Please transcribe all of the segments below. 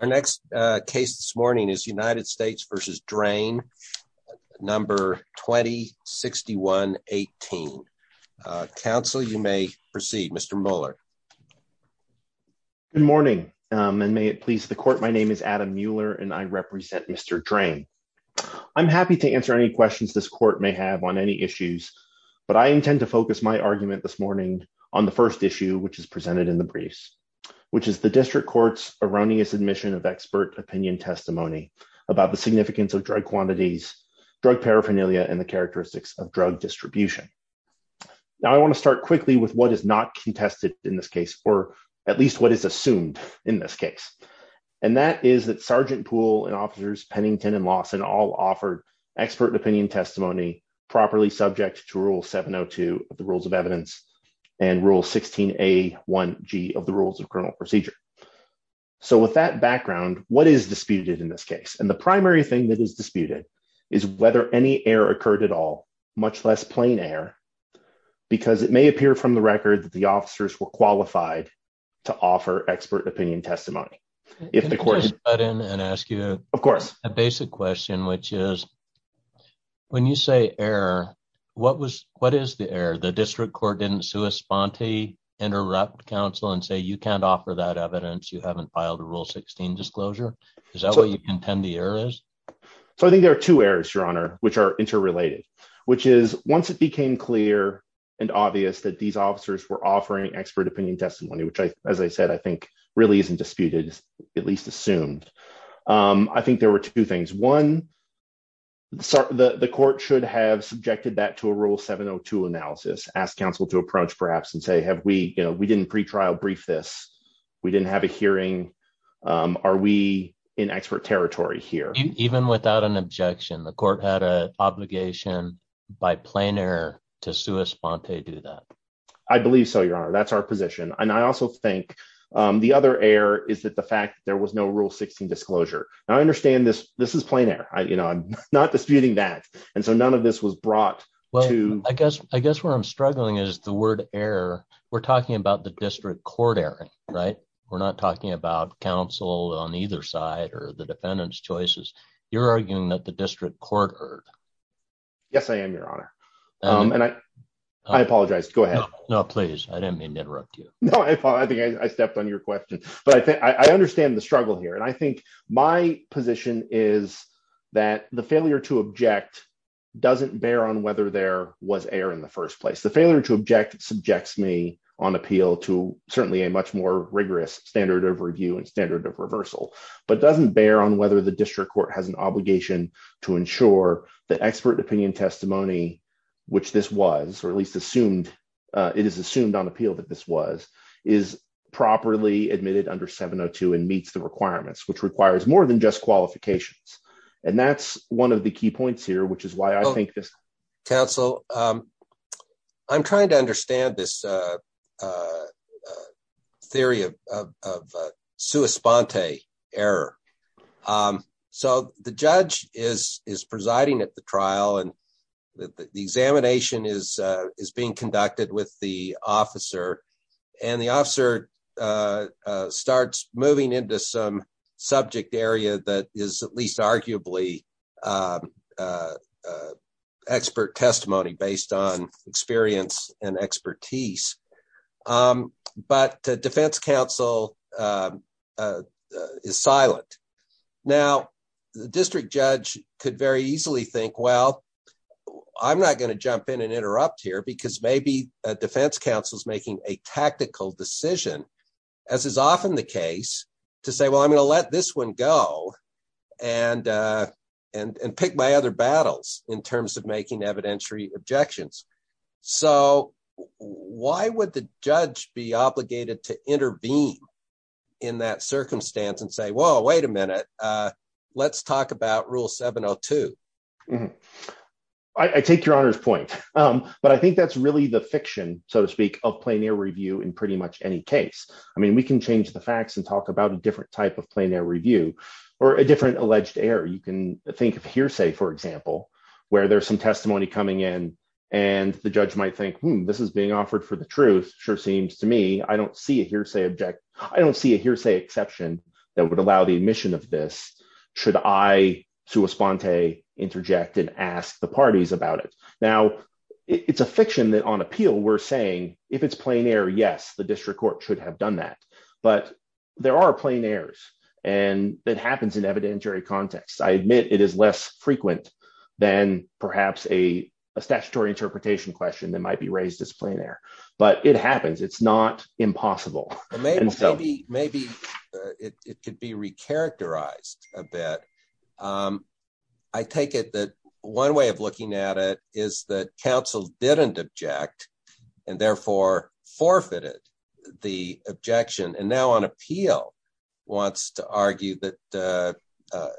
Our next case this morning is United States v. Draine, No. 206118. Counsel, you may proceed. Mr. Mueller. Good morning, and may it please the court. My name is Adam Mueller, and I represent Mr. Draine. I'm happy to answer any questions this court may have on any issues, but I intend to focus my argument this morning on the first issue, which is presented in the briefs, which is the district court's erroneous admission of expert opinion testimony about the significance of drug quantities, drug paraphernalia, and the characteristics of drug distribution. Now I want to start quickly with what is not contested in this case, or at least what is assumed in this case. And that is that Sergeant Poole and Officers Pennington and Lawson all offered expert opinion testimony properly subject to Rule 702 of the Rules of Evidence and Rule 16A1G of the Rules of Criminal Procedure. So with that background, what is disputed in this case? And the primary thing that is disputed is whether any error occurred at all, much less plain error, because it may appear from the record that the officers were qualified to offer expert opinion testimony. Can I just butt in and ask you a basic question, which is, when you say error, what is the error? The district court didn't sua sponte, interrupt counsel and say, you can't offer that evidence, you haven't filed a Rule 16 disclosure? Is that what you contend the error is? So I think there are two errors, Your Honor, which are interrelated, which is once it became clear and obvious that these officers were offering expert opinion testimony, which I, as I said, I think really isn't disputed, at least assumed. I think there were two things. One, the court should have subjected that to a Rule 702 analysis, ask counsel to approach perhaps and say, have we, you know, we didn't pretrial brief this. We didn't have a hearing. Are we in expert territory here? Even without an objection, the court had an obligation by plain error to sua sponte do that. I believe so, Your Honor, that's our position. And I also think the other error is that the fact there was no Rule 16 disclosure. I understand this. This is plain air. You know, I'm not disputing that. And so none of this was brought to. I guess I guess where I'm struggling is the word error. We're talking about the district court error. Right. We're not talking about counsel on either side or the defendant's choices. You're arguing that the district court. Yes, I am, Your Honor. I apologize. Go ahead. No, please. I didn't mean to interrupt you. No, I think I stepped on your question, but I think I understand the struggle here. And I think my position is that the failure to object doesn't bear on whether there was air in the first place. The failure to object subjects me on appeal to certainly a much more rigorous standard of review and standard of reversal. But doesn't bear on whether the district court has an obligation to ensure the expert opinion testimony, which this was or at least assumed it is assumed on appeal that this was is properly admitted under 702 and meets the requirements, which requires more than just qualifications. And that's one of the key points here, which is why I think this. Counsel. I'm trying to understand this theory of suespante error. So the judge is is presiding at the trial and the examination is is being conducted with the officer. And the officer starts moving into some subject area that is at least arguably expert testimony based on experience and expertise. But the defense counsel is silent. Now, the district judge could very easily think, well, I'm not going to jump in and interrupt here because maybe a defense counsel is making a tactical decision. As is often the case to say, well, I'm going to let this one go and and pick my other battles in terms of making evidentiary objections. So why would the judge be obligated to intervene in that circumstance and say, well, wait a minute. Let's talk about rule 702. I take your honor's point. But I think that's really the fiction, so to speak, of plenary review in pretty much any case. I mean, we can change the facts and talk about a different type of plenary review or a different alleged error. You can think of hearsay, for example, where there's some testimony coming in and the judge might think this is being offered for the truth. Sure seems to me I don't see a hearsay object. I don't see a hearsay exception that would allow the admission of this. Should I, sua sponte, interject and ask the parties about it? Now, it's a fiction that on appeal we're saying if it's plenary, yes, the district court should have done that. But there are plenaries and that happens in evidentiary context. I admit it is less frequent than perhaps a statutory interpretation question that might be raised as plenary. But it happens. It's not impossible. Maybe it could be recharacterized a bit. I take it that one way of looking at it is that counsel didn't object and therefore forfeited the objection. And now on appeal wants to argue that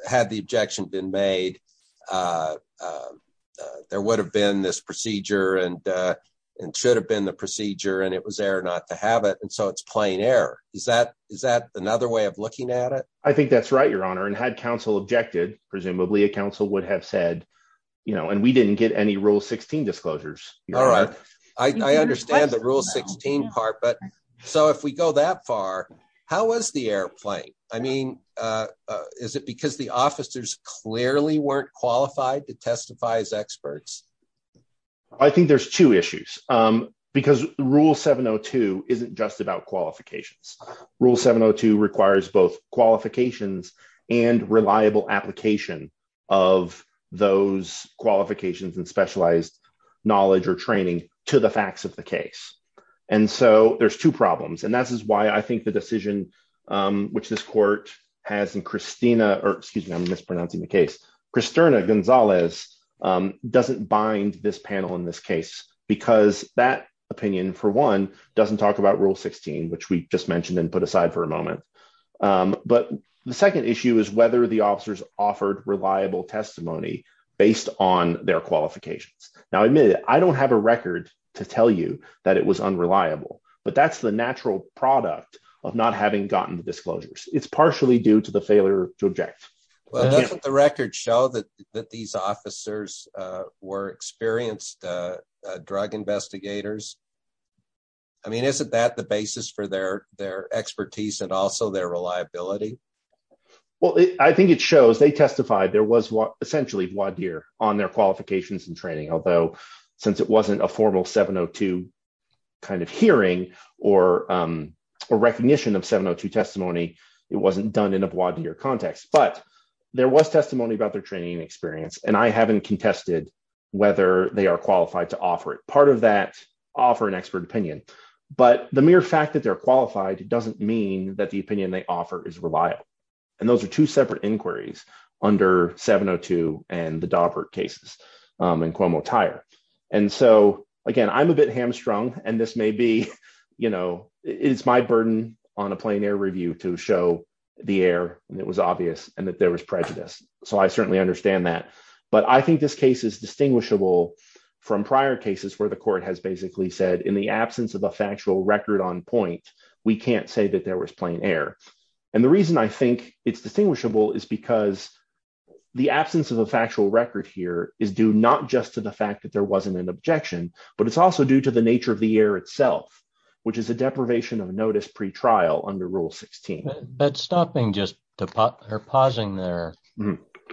had the objection been made, there would have been this procedure and it should have been the procedure and it was there not to have it. And so it's plain error. Is that is that another way of looking at it? I think that's right, Your Honor. And had counsel objected, presumably a counsel would have said, you know, and we didn't get any rule 16 disclosures. All right. I understand the rule 16 part. But so if we go that far, how was the airplane? I mean, is it because the officers clearly weren't qualified to testify as experts? I think there's two issues because Rule 702 isn't just about qualifications. Rule 702 requires both qualifications and reliable application of those qualifications and specialized knowledge or training to the facts of the case. And so there's two problems. And this is why I think the decision which this court has in Christina or excuse me, I'm mispronouncing the case. Kristerna Gonzalez doesn't bind this panel in this case because that opinion, for one, doesn't talk about Rule 16, which we just mentioned and put aside for a moment. But the second issue is whether the officers offered reliable testimony based on their qualifications. Now, admit it. I don't have a record to tell you that it was unreliable, but that's the natural product of not having gotten the disclosures. It's partially due to the failure to object. The records show that these officers were experienced drug investigators. I mean, isn't that the basis for their their expertise and also their reliability? Well, I think it shows they testified there was essentially voir dire on their qualifications and training, although since it wasn't a formal 702 kind of hearing or recognition of 702 testimony, it wasn't done in a voir dire context. But there was testimony about their training and experience, and I haven't contested whether they are qualified to offer it. Part of that offer an expert opinion, but the mere fact that they're qualified doesn't mean that the opinion they offer is reliable. And those are two separate inquiries under 702 and the Daubert cases and Cuomo-Tyre. And so, again, I'm a bit hamstrung and this may be, you know, it's my burden on a plain air review to show the air and it was obvious and that there was prejudice. So I certainly understand that. But I think this case is distinguishable from prior cases where the court has basically said in the absence of a factual record on point, we can't say that there was plain air. And the reason I think it's distinguishable is because the absence of a factual record here is due not just to the fact that there wasn't an objection, but it's also due to the nature of the air itself, which is a deprivation of notice pre-trial under Rule 16. But stopping just to pause there,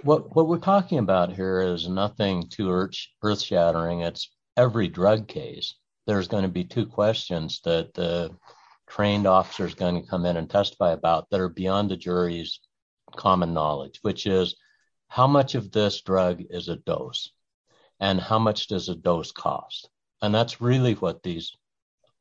what we're talking about here is nothing too earth shattering. It's every drug case. There's going to be two questions that the trained officer is going to come in and testify about that are beyond the jury's common knowledge, which is how much of this drug is a dose and how much does a dose cost? And that's really what these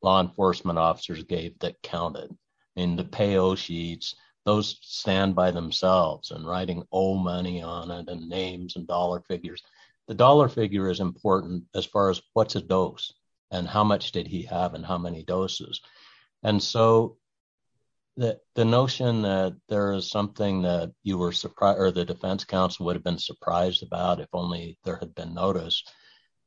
law enforcement officers gave that counted. In the payo sheets, those stand by themselves and writing oh money on it and names and dollar figures. The dollar figure is important as far as what's a dose and how much did he have and how many doses. And so the notion that there is something that the defense counsel would have been surprised about if only there had been notice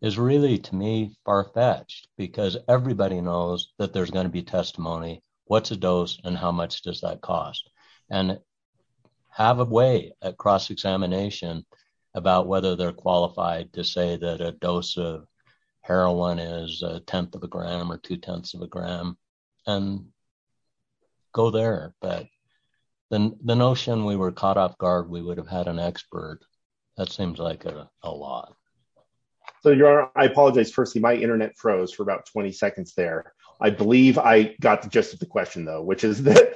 is really to me far fetched because everybody knows that there's going to be testimony, what's a dose and how much does that cost? And have a way at cross-examination about whether they're qualified to say that a dose of heroin is a tenth of a gram or two tenths of a gram and go there. But the notion we were caught off guard, we would have had an expert. That seems like a lot. So I apologize, Percy, my Internet froze for about 20 seconds there. I believe I got the gist of the question, though, which is that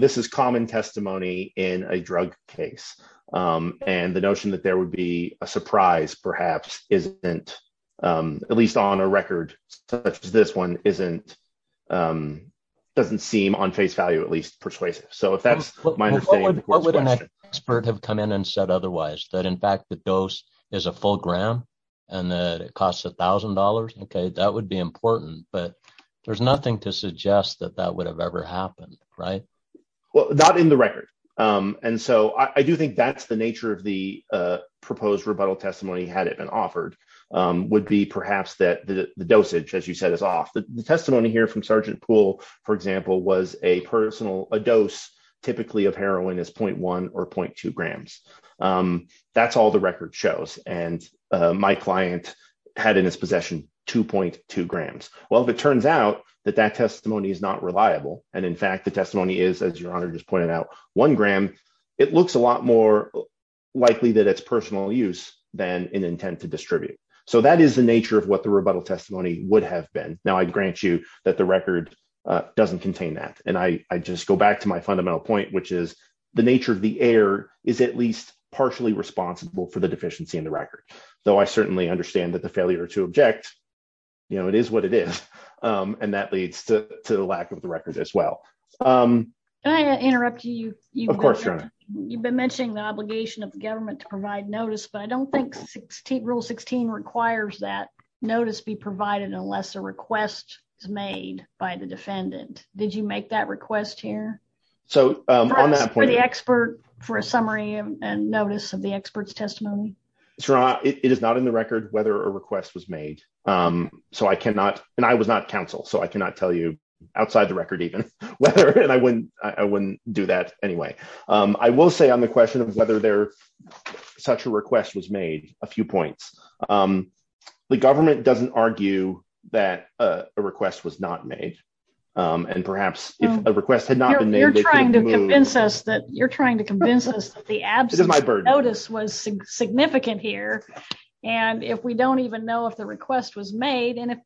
this is common testimony in a drug case. And the notion that there would be a surprise perhaps isn't at least on a record such as this one isn't doesn't seem on face value, at least persuasive. So if that's my understanding, what would an expert have come in and said otherwise, that in fact, the dose is a full gram and that it costs a thousand dollars? OK, that would be important, but there's nothing to suggest that that would have ever happened. Right. Well, not in the record. And so I do think that's the nature of the proposed rebuttal testimony had it been offered would be perhaps that the dosage, as you said, is off. The testimony here from Sergeant Poole, for example, was a personal a dose typically of heroin is point one or point two grams. That's all the record shows. And my client had in his possession two point two grams. Well, if it turns out that that testimony is not reliable and in fact, the testimony is, as your honor just pointed out, one gram. It looks a lot more likely that it's personal use than an intent to distribute. So that is the nature of what the rebuttal testimony would have been. Now, I grant you that the record doesn't contain that. And I just go back to my fundamental point, which is the nature of the error is at least partially responsible for the deficiency in the record, though I certainly understand that the failure to object. You know, it is what it is. And that leads to the lack of the record as well. I interrupt you. Of course, you've been mentioning the obligation of the government to provide notice. But I don't think 16 rule 16 requires that notice be provided unless a request is made by the defendant. Did you make that request here? So the expert for a summary and notice of the expert's testimony. It is not in the record whether a request was made. So I cannot and I was not counsel. So I cannot tell you outside the record even whether and I wouldn't I wouldn't do that anyway. I will say on the question of whether there such a request was made a few points. The government doesn't argue that a request was not made. And perhaps a request had not been made. You're trying to convince us that you're trying to convince us that the absence of notice was significant here. And if we don't even know if the request was made and if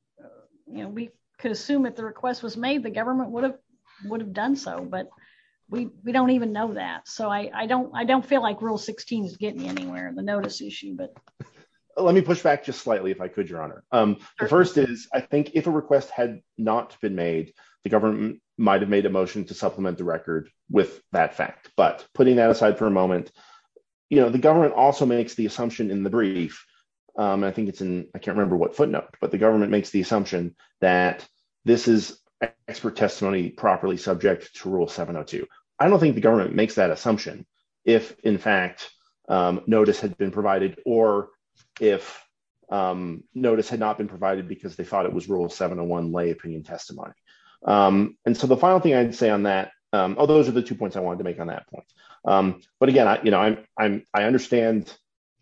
we could assume that the request was made, the government would have would have done so. But we don't even know that. So I don't I don't feel like rule 16 is getting anywhere. Let me push back just slightly, if I could, Your Honor. The first is, I think if a request had not been made, the government might have made a motion to supplement the record with that fact. But putting that aside for a moment, you know, the government also makes the assumption in the brief. I think it's in I can't remember what footnote, but the government makes the assumption that this is expert testimony properly subject to rule 702. I don't think the government makes that assumption if, in fact, notice had been provided or if notice had not been provided because they thought it was rule 701 lay opinion testimony. And so the final thing I'd say on that. Oh, those are the two points I wanted to make on that point. But again, you know, I'm I'm I understand,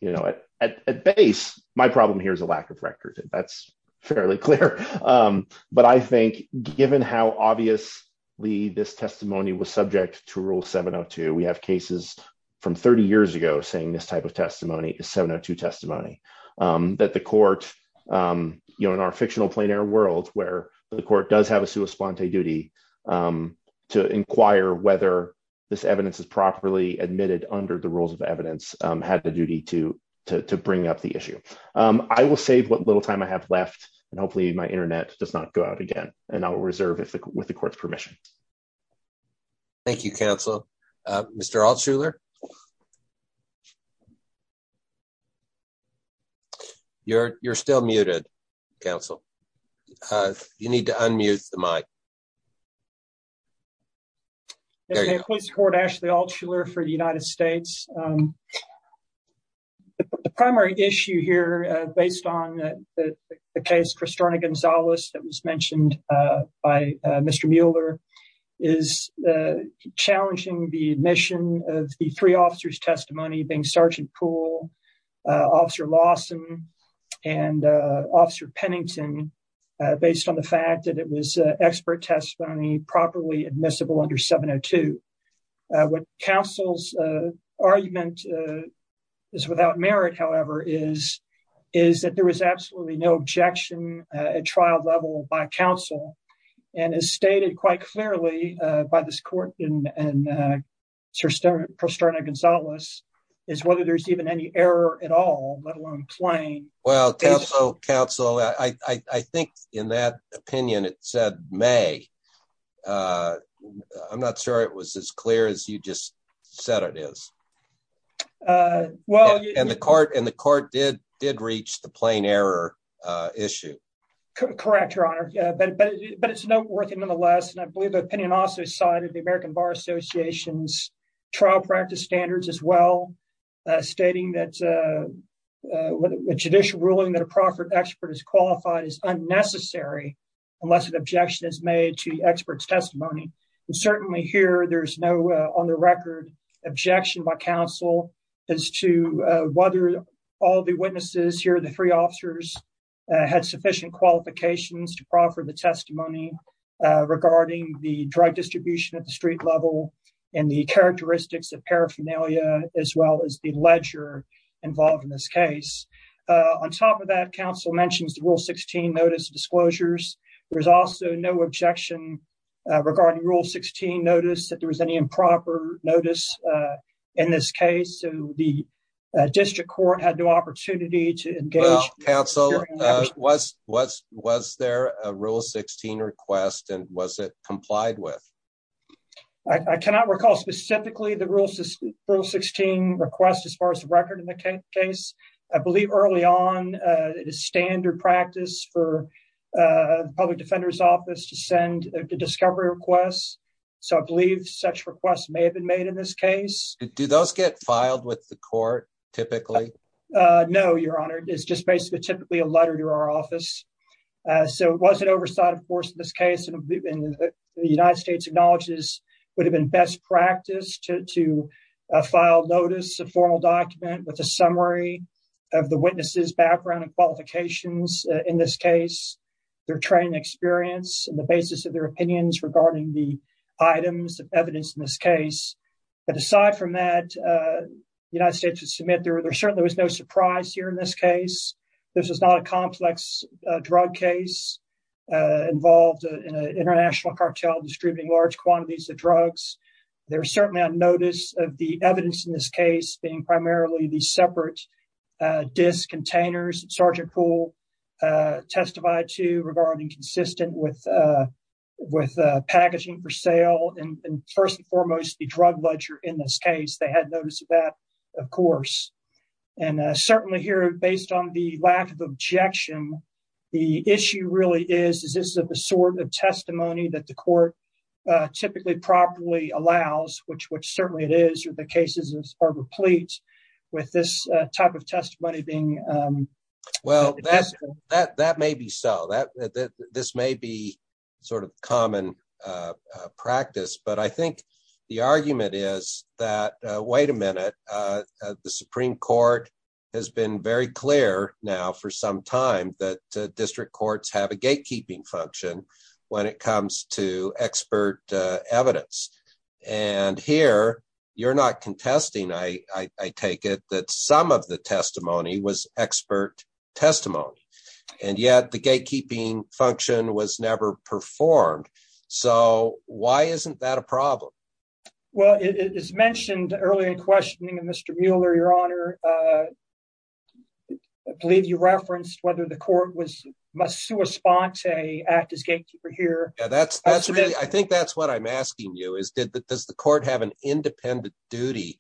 you know, at base, my problem here is a lack of record. That's fairly clear. But I think given how obviously this testimony was subject to rule 702, we have cases from 30 years ago saying this type of testimony is 702 testimony that the court, you know, in our fictional plein air world where the court does have a sua splante duty to inquire whether this evidence is properly admitted under the rules of evidence had the duty to to bring up the issue. I will save what little time I have left and hopefully my Internet does not go out again and I will reserve it with the court's permission. Thank you, counsel. Mr. Altshuler. You're you're still muted, counsel. You need to unmute the mic. Please support Ashley Altshuler for the United States. The primary issue here, based on the case, Kristina Gonzalez that was mentioned by Mr. Mueller is challenging the admission of the three officers testimony being Sergeant Poole, Officer Lawson and Officer Pennington, based on the fact that it was expert testimony properly admissible under 702. What counsel's argument is without merit, however, is, is that there was absolutely no objection at trial level by counsel. And as stated quite clearly by this court and Sir Sterling Posterna Gonzalez is whether there's even any error at all, let alone plain. Well, counsel, I think in that opinion, it said may. I'm not sure it was as clear as you just said it is. Well, and the court and the court did did reach the plain error issue. Correct, Your Honor. But it's noteworthy, nonetheless, and I believe the opinion also cited the American Bar Association's trial practice standards as well. Stating that a judicial ruling that a proffered expert is qualified is unnecessary unless an objection is made to the expert's testimony. Certainly here, there's no on the record objection by counsel as to whether all the witnesses here, the three officers had sufficient qualifications to proffer the testimony regarding the drug distribution at the street level and the characteristics of paraphernalia, as well as the ledger involved in this case. On top of that, counsel mentions the rule 16 notice disclosures. There's also no objection regarding rule 16 notice that there was any improper notice. In this case, the district court had no opportunity to engage counsel was was was there a rule 16 request and was it complied with. I cannot recall specifically the rules rule 16 request as far as the record in the case. I believe early on standard practice for public defender's office to send a discovery request. So I believe such requests may have been made in this case, do those get filed with the court. Typically, no, Your Honor is just basically typically a letter to our office. So was it oversight of course in this case and the United States acknowledges would have been best practice to to file notice a formal document with a summary of the witnesses background and qualifications. In this case, their training experience and the basis of their opinions regarding the items of evidence in this case. But aside from that, the United States would submit there there certainly was no surprise here in this case. This is not a complex drug case involved in an international cartel distributing large quantities of drugs. There are certainly a notice of the evidence in this case being primarily the separate disc containers and Sergeant pool testified to regarding consistent with with packaging for sale and first and foremost the drug ledger. In this case, they had those that, of course, and certainly here, based on the lack of objection. The issue really is, is this a sort of testimony that the court typically properly allows which which certainly it is the cases are replete with this type of testimony being. Well, that's that that may be so that this may be sort of common practice, but I think the argument is that, wait a minute. The Supreme Court has been very clear now for some time that district courts have a gatekeeping function when it comes to expert evidence. And here, you're not contesting I take it that some of the testimony was expert testimony. And yet the gatekeeping function was never performed. So why isn't that a problem. Well, it is mentioned earlier in questioning and Mr Mueller, your honor. I believe you referenced whether the court was must respond to a act as gatekeeper here, that's, that's really I think that's what I'm asking you is did that does the court have an independent duty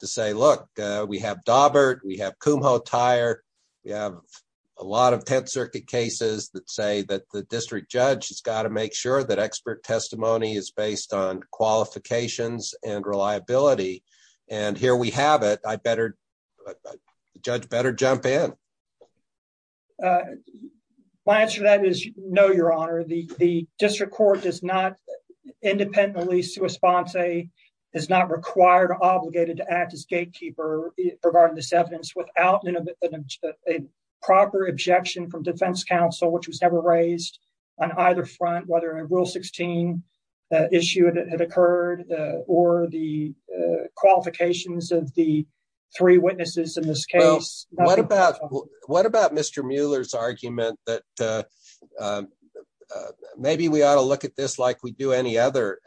to say, look, we have Daubert we have Kumho tire. We have a lot of 10th Circuit cases that say that the district judge has got to make sure that expert testimony is based on qualifications and reliability. And here we have it, I better judge better jump in. My answer to that is no, your honor, the district court does not independently response a is not required or obligated to act as gatekeeper regarding this evidence without a proper objection from defense counsel which was never raised on either front, whether rule 16 issue that had occurred, or the qualifications of the three witnesses in this case, what about what about Mr Mueller's argument that maybe we ought to look at this like we do any other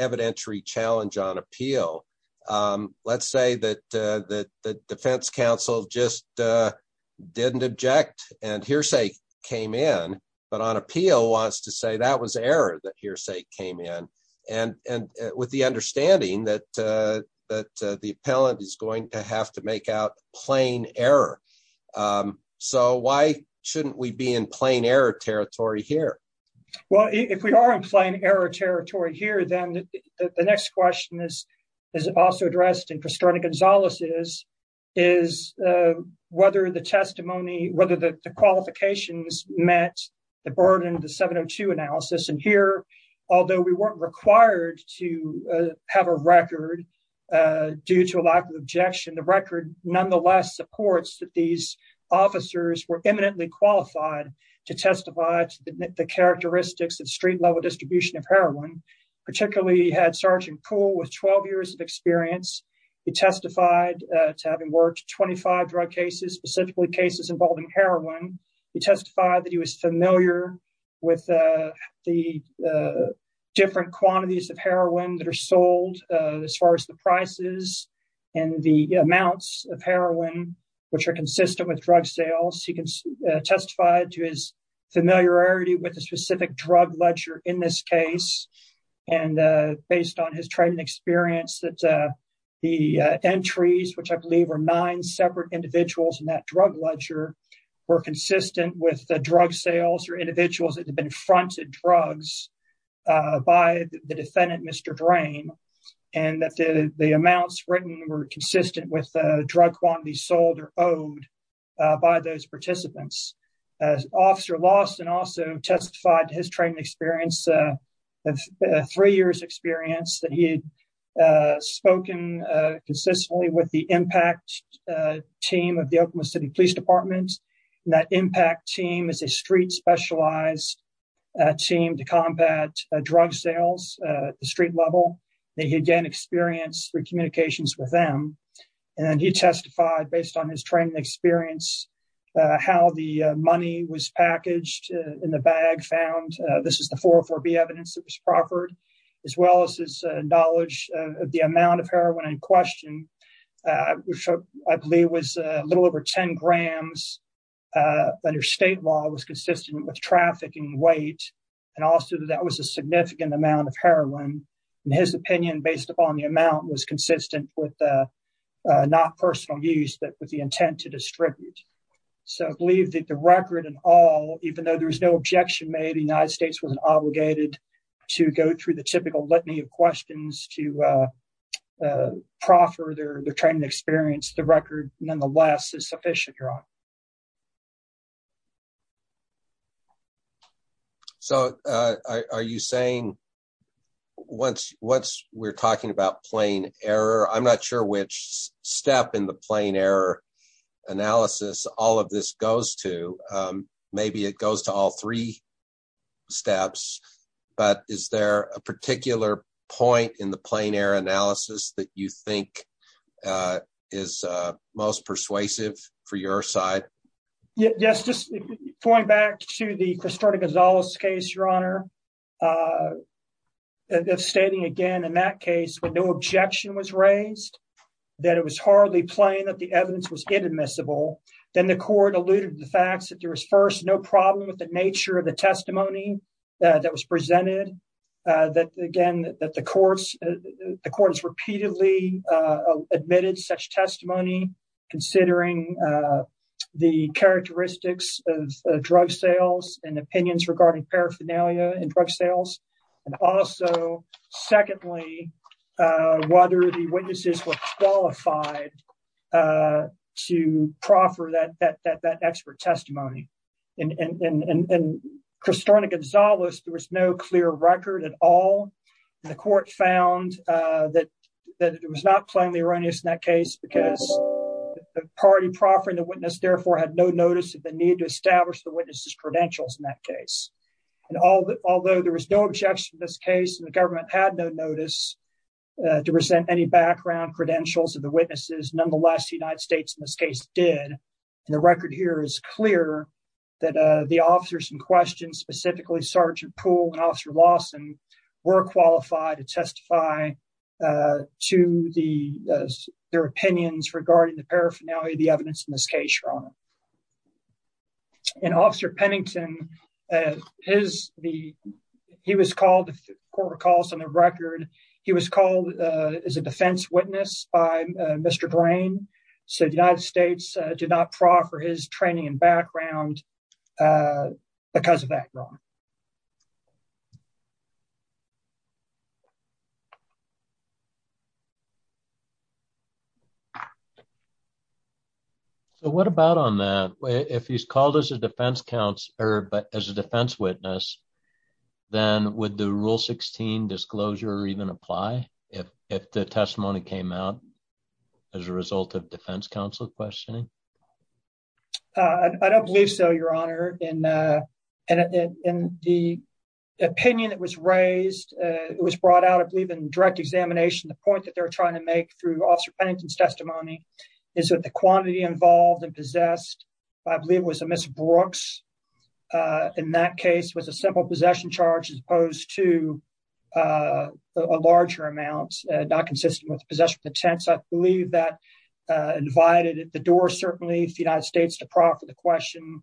evidentiary challenge on appeal. Let's say that the defense counsel just didn't object and hearsay came in, but on appeal wants to say that was error that hearsay came in and and with the understanding that that the appellant is going to have to make out plain error. So why shouldn't we be in plain error territory here. Well, if we are in plain error territory here, then the next question is, is also addressed in pastrana Gonzalez's is whether the testimony, whether the qualifications met the burden of the 702 analysis and here, although we weren't required to have a record. Due to a lack of objection the record, nonetheless supports that these officers were eminently qualified to testify to the characteristics of street level distribution of heroin, particularly had Sergeant pool with 12 years of experience. He testified to having worked 25 drug cases specifically cases involving heroin. He testified that he was familiar with the different quantities of heroin that are sold as far as the prices and the amounts of heroin, which are consistent with drug sales, he can testify to his familiarity with a specific drug ledger in this case. And based on his training experience that the entries, which I believe are nine separate individuals in that drug ledger were consistent with the drug sales or individuals that have been fronted drugs by the defendant Mr drain and that the amounts written were consistent with the drug quantity sold or owed by those participants. Officer lost and also testified his training experience of three years experience that he had spoken consistently with the impact team of the Oklahoma City Police Department. And that impact team is a street specialized team to combat drug sales street level. They had gained experience for communications with them. And he testified based on his training experience, how the money was packaged in the bag found this is the 404 be evidence that was proffered, as well as his knowledge of the amount of heroin in question, which I believe was a little over 10 grams. Under state law was consistent with trafficking weight, and also that was a significant amount of heroin, and his opinion based upon the amount was consistent with not personal use that with the intent to distribute. So I believe that the record and all, even though there was no objection made the United States wasn't obligated to go through the typical let me have questions to proffer their training experience the record, nonetheless is sufficient. So, are you saying, once, once we're talking about plane error I'm not sure which step in the plane error analysis, all of this goes to maybe it goes to all three steps, but is there a particular point in the plane error analysis that you think is most persuasive for your side. Yes, just going back to the historic as always case Your Honor. If standing again in that case, but no objection was raised that it was hardly playing that the evidence was inadmissible, then the court alluded to the facts that there was first no problem with the nature of the testimony that was presented that again that the courts, the courts repeatedly admitted such testimony, considering the characteristics of drug sales and opinions regarding paraphernalia and drug sales, and also. Secondly, whether the witnesses were qualified to proffer that that that that expert testimony and Christiana Gonzalez, there was no clear record at all. The court found that that it was not plainly erroneous in that case because the party proffering the witness therefore had no notice of the need to establish the witnesses credentials in that case. Although there was no objection this case and the government had no notice to present any background credentials of the witnesses nonetheless United States in this case, did the record here is clear that the officers in question specifically Sergeant pool and officer Lawson were qualified to testify to the, their opinions regarding the paraphernalia the evidence in this case, Your Honor. And officer Pennington is the. He was called the court recalls on the record. He was called as a defense witness by Mr grain. So the United States did not proffer his training and background. Because of that. Your Honor. What about on that way if he's called as a defense counselor but as a defense witness. Then, with the rule 16 disclosure or even apply. If, if the testimony came out as a result of defense counsel questioning. I don't believe so, Your Honor, and in the opinion that was raised. It was brought out of leaving direct examination the point that they're trying to make through officer pennington's testimony is that the quantity involved and possessed. I believe it was a Miss Brooks. In that case was a simple possession charge as opposed to a larger amounts, not consistent with possession attempts I believe that invited the door certainly if the United States to profit the question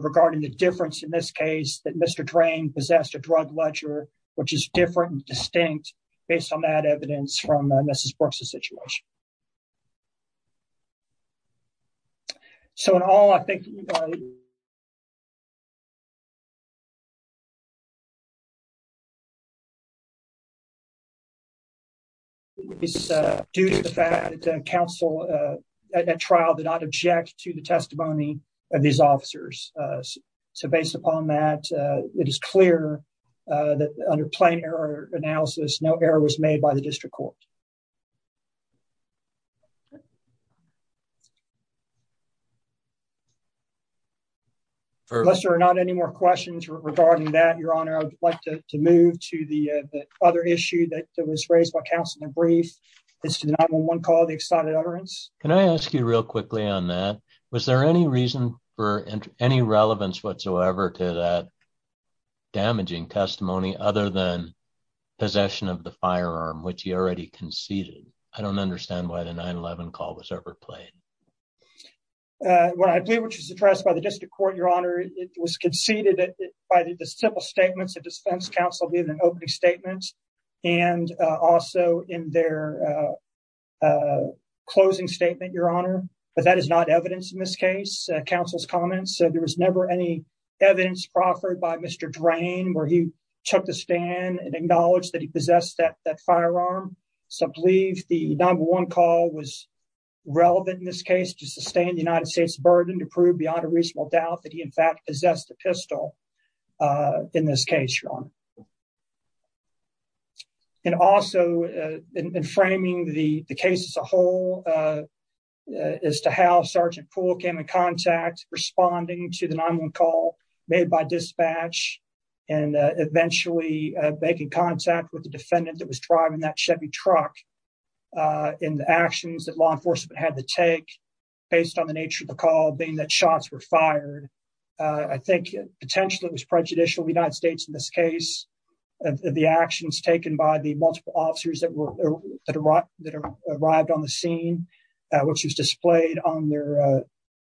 regarding the difference in this case that Mr drain Possessed a drug ledger, which is different distinct based on that evidence from Mrs Brooks a situation. So, in all, I think. Due to the fact that counsel trial did not object to the testimony of these officers. So, based upon that, it is clear that under plain error analysis, no error was made by the district court. Unless there are not any more questions regarding that your honor I'd like to move to the other issue that was raised by Councilman brief is to the 911 call the excited utterance, can I ask you real quickly on that. Was there any reason for any relevance whatsoever to that damaging testimony, other than possession of the firearm which he already conceded, I don't understand why the 911 call was ever played. What I do, which is addressed by the district court, your honor, it was conceded by the simple statements of defense counsel did an opening statement, and also in their closing statement, your honor, but that is not evidence in this case councils comments so there was never any evidence proffered by Mr drain where he took the stand and acknowledge that he possessed that that firearm. So I believe the number one call was relevant in this case to sustain the United States burden to prove beyond a reasonable doubt that he in fact possessed a pistol. In this case, your honor. And also in framing the case as a whole, as to how Sergeant pool came in contact, responding to the 911 call made by dispatch and eventually making contact with the defendant that was driving that Chevy truck in the actions that law enforcement had to take based on the nature of the call being that shots were fired. I think, potentially was prejudicial United States in this case, the actions taken by the multiple officers that were that arrived that arrived on the scene, which was displayed on their,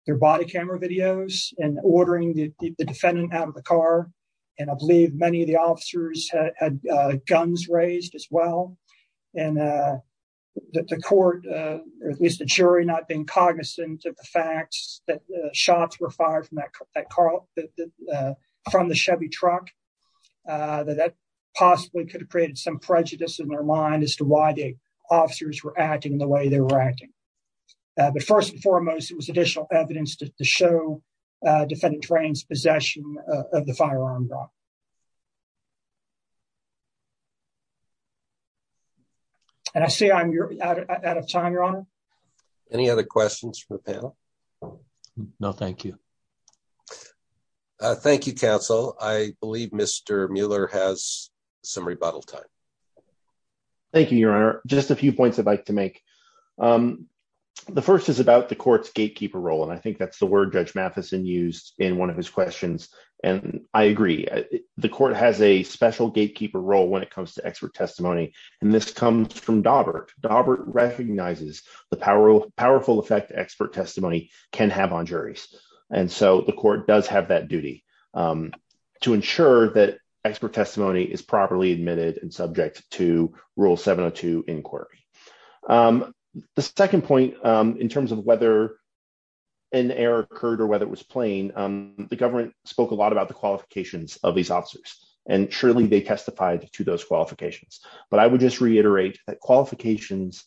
their body camera videos and ordering the defendant out of the car. And I believe many of the officers had guns raised as well. And the court, or at least the jury not being cognizant of the facts that shots were fired from that car from the Chevy truck that that possibly could have created some prejudice in their mind as to why the officers were acting the way they were acting. But first and foremost, it was additional evidence to show defending trains possession of the firearm. And I see I'm out of time, your honor. Any other questions for the panel. No, thank you. Thank you, counsel, I believe Mr. Mueller has some rebuttal time. Thank you, your honor, just a few points I'd like to make. The first is about the courts gatekeeper role and I think that's the word judge Matheson used in one of his questions, and I agree, the court has a special gatekeeper role when it comes to expert testimony. And this comes from Daubert recognizes the power of powerful effect expert testimony can have on juries. And so the court does have that duty to ensure that expert testimony is properly admitted and subject to rule 702 inquiry. The second point in terms of whether an error occurred or whether it was plain, the government spoke a lot about the qualifications of these officers, and surely they testified to those qualifications, but I would just reiterate that qualifications.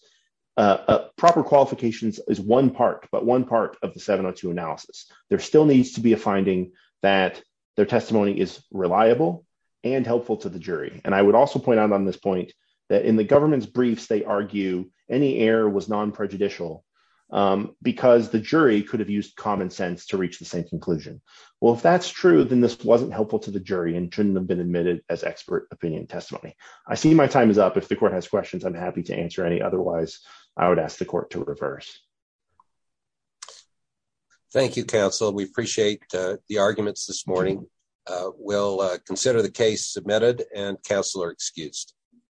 Proper qualifications is one part but one part of the 702 analysis, there still needs to be a finding that their testimony is reliable and helpful to the jury, and I would also point out on this point that in the government's briefs they argue. Any air was non prejudicial, because the jury could have used common sense to reach the same conclusion. Well if that's true, then this wasn't helpful to the jury and shouldn't have been admitted as expert opinion testimony. I see my time is up if the court has questions I'm happy to answer any otherwise, I would ask the court to reverse. Thank you counsel we appreciate the arguments this morning. We'll consider the case submitted and counselor excused.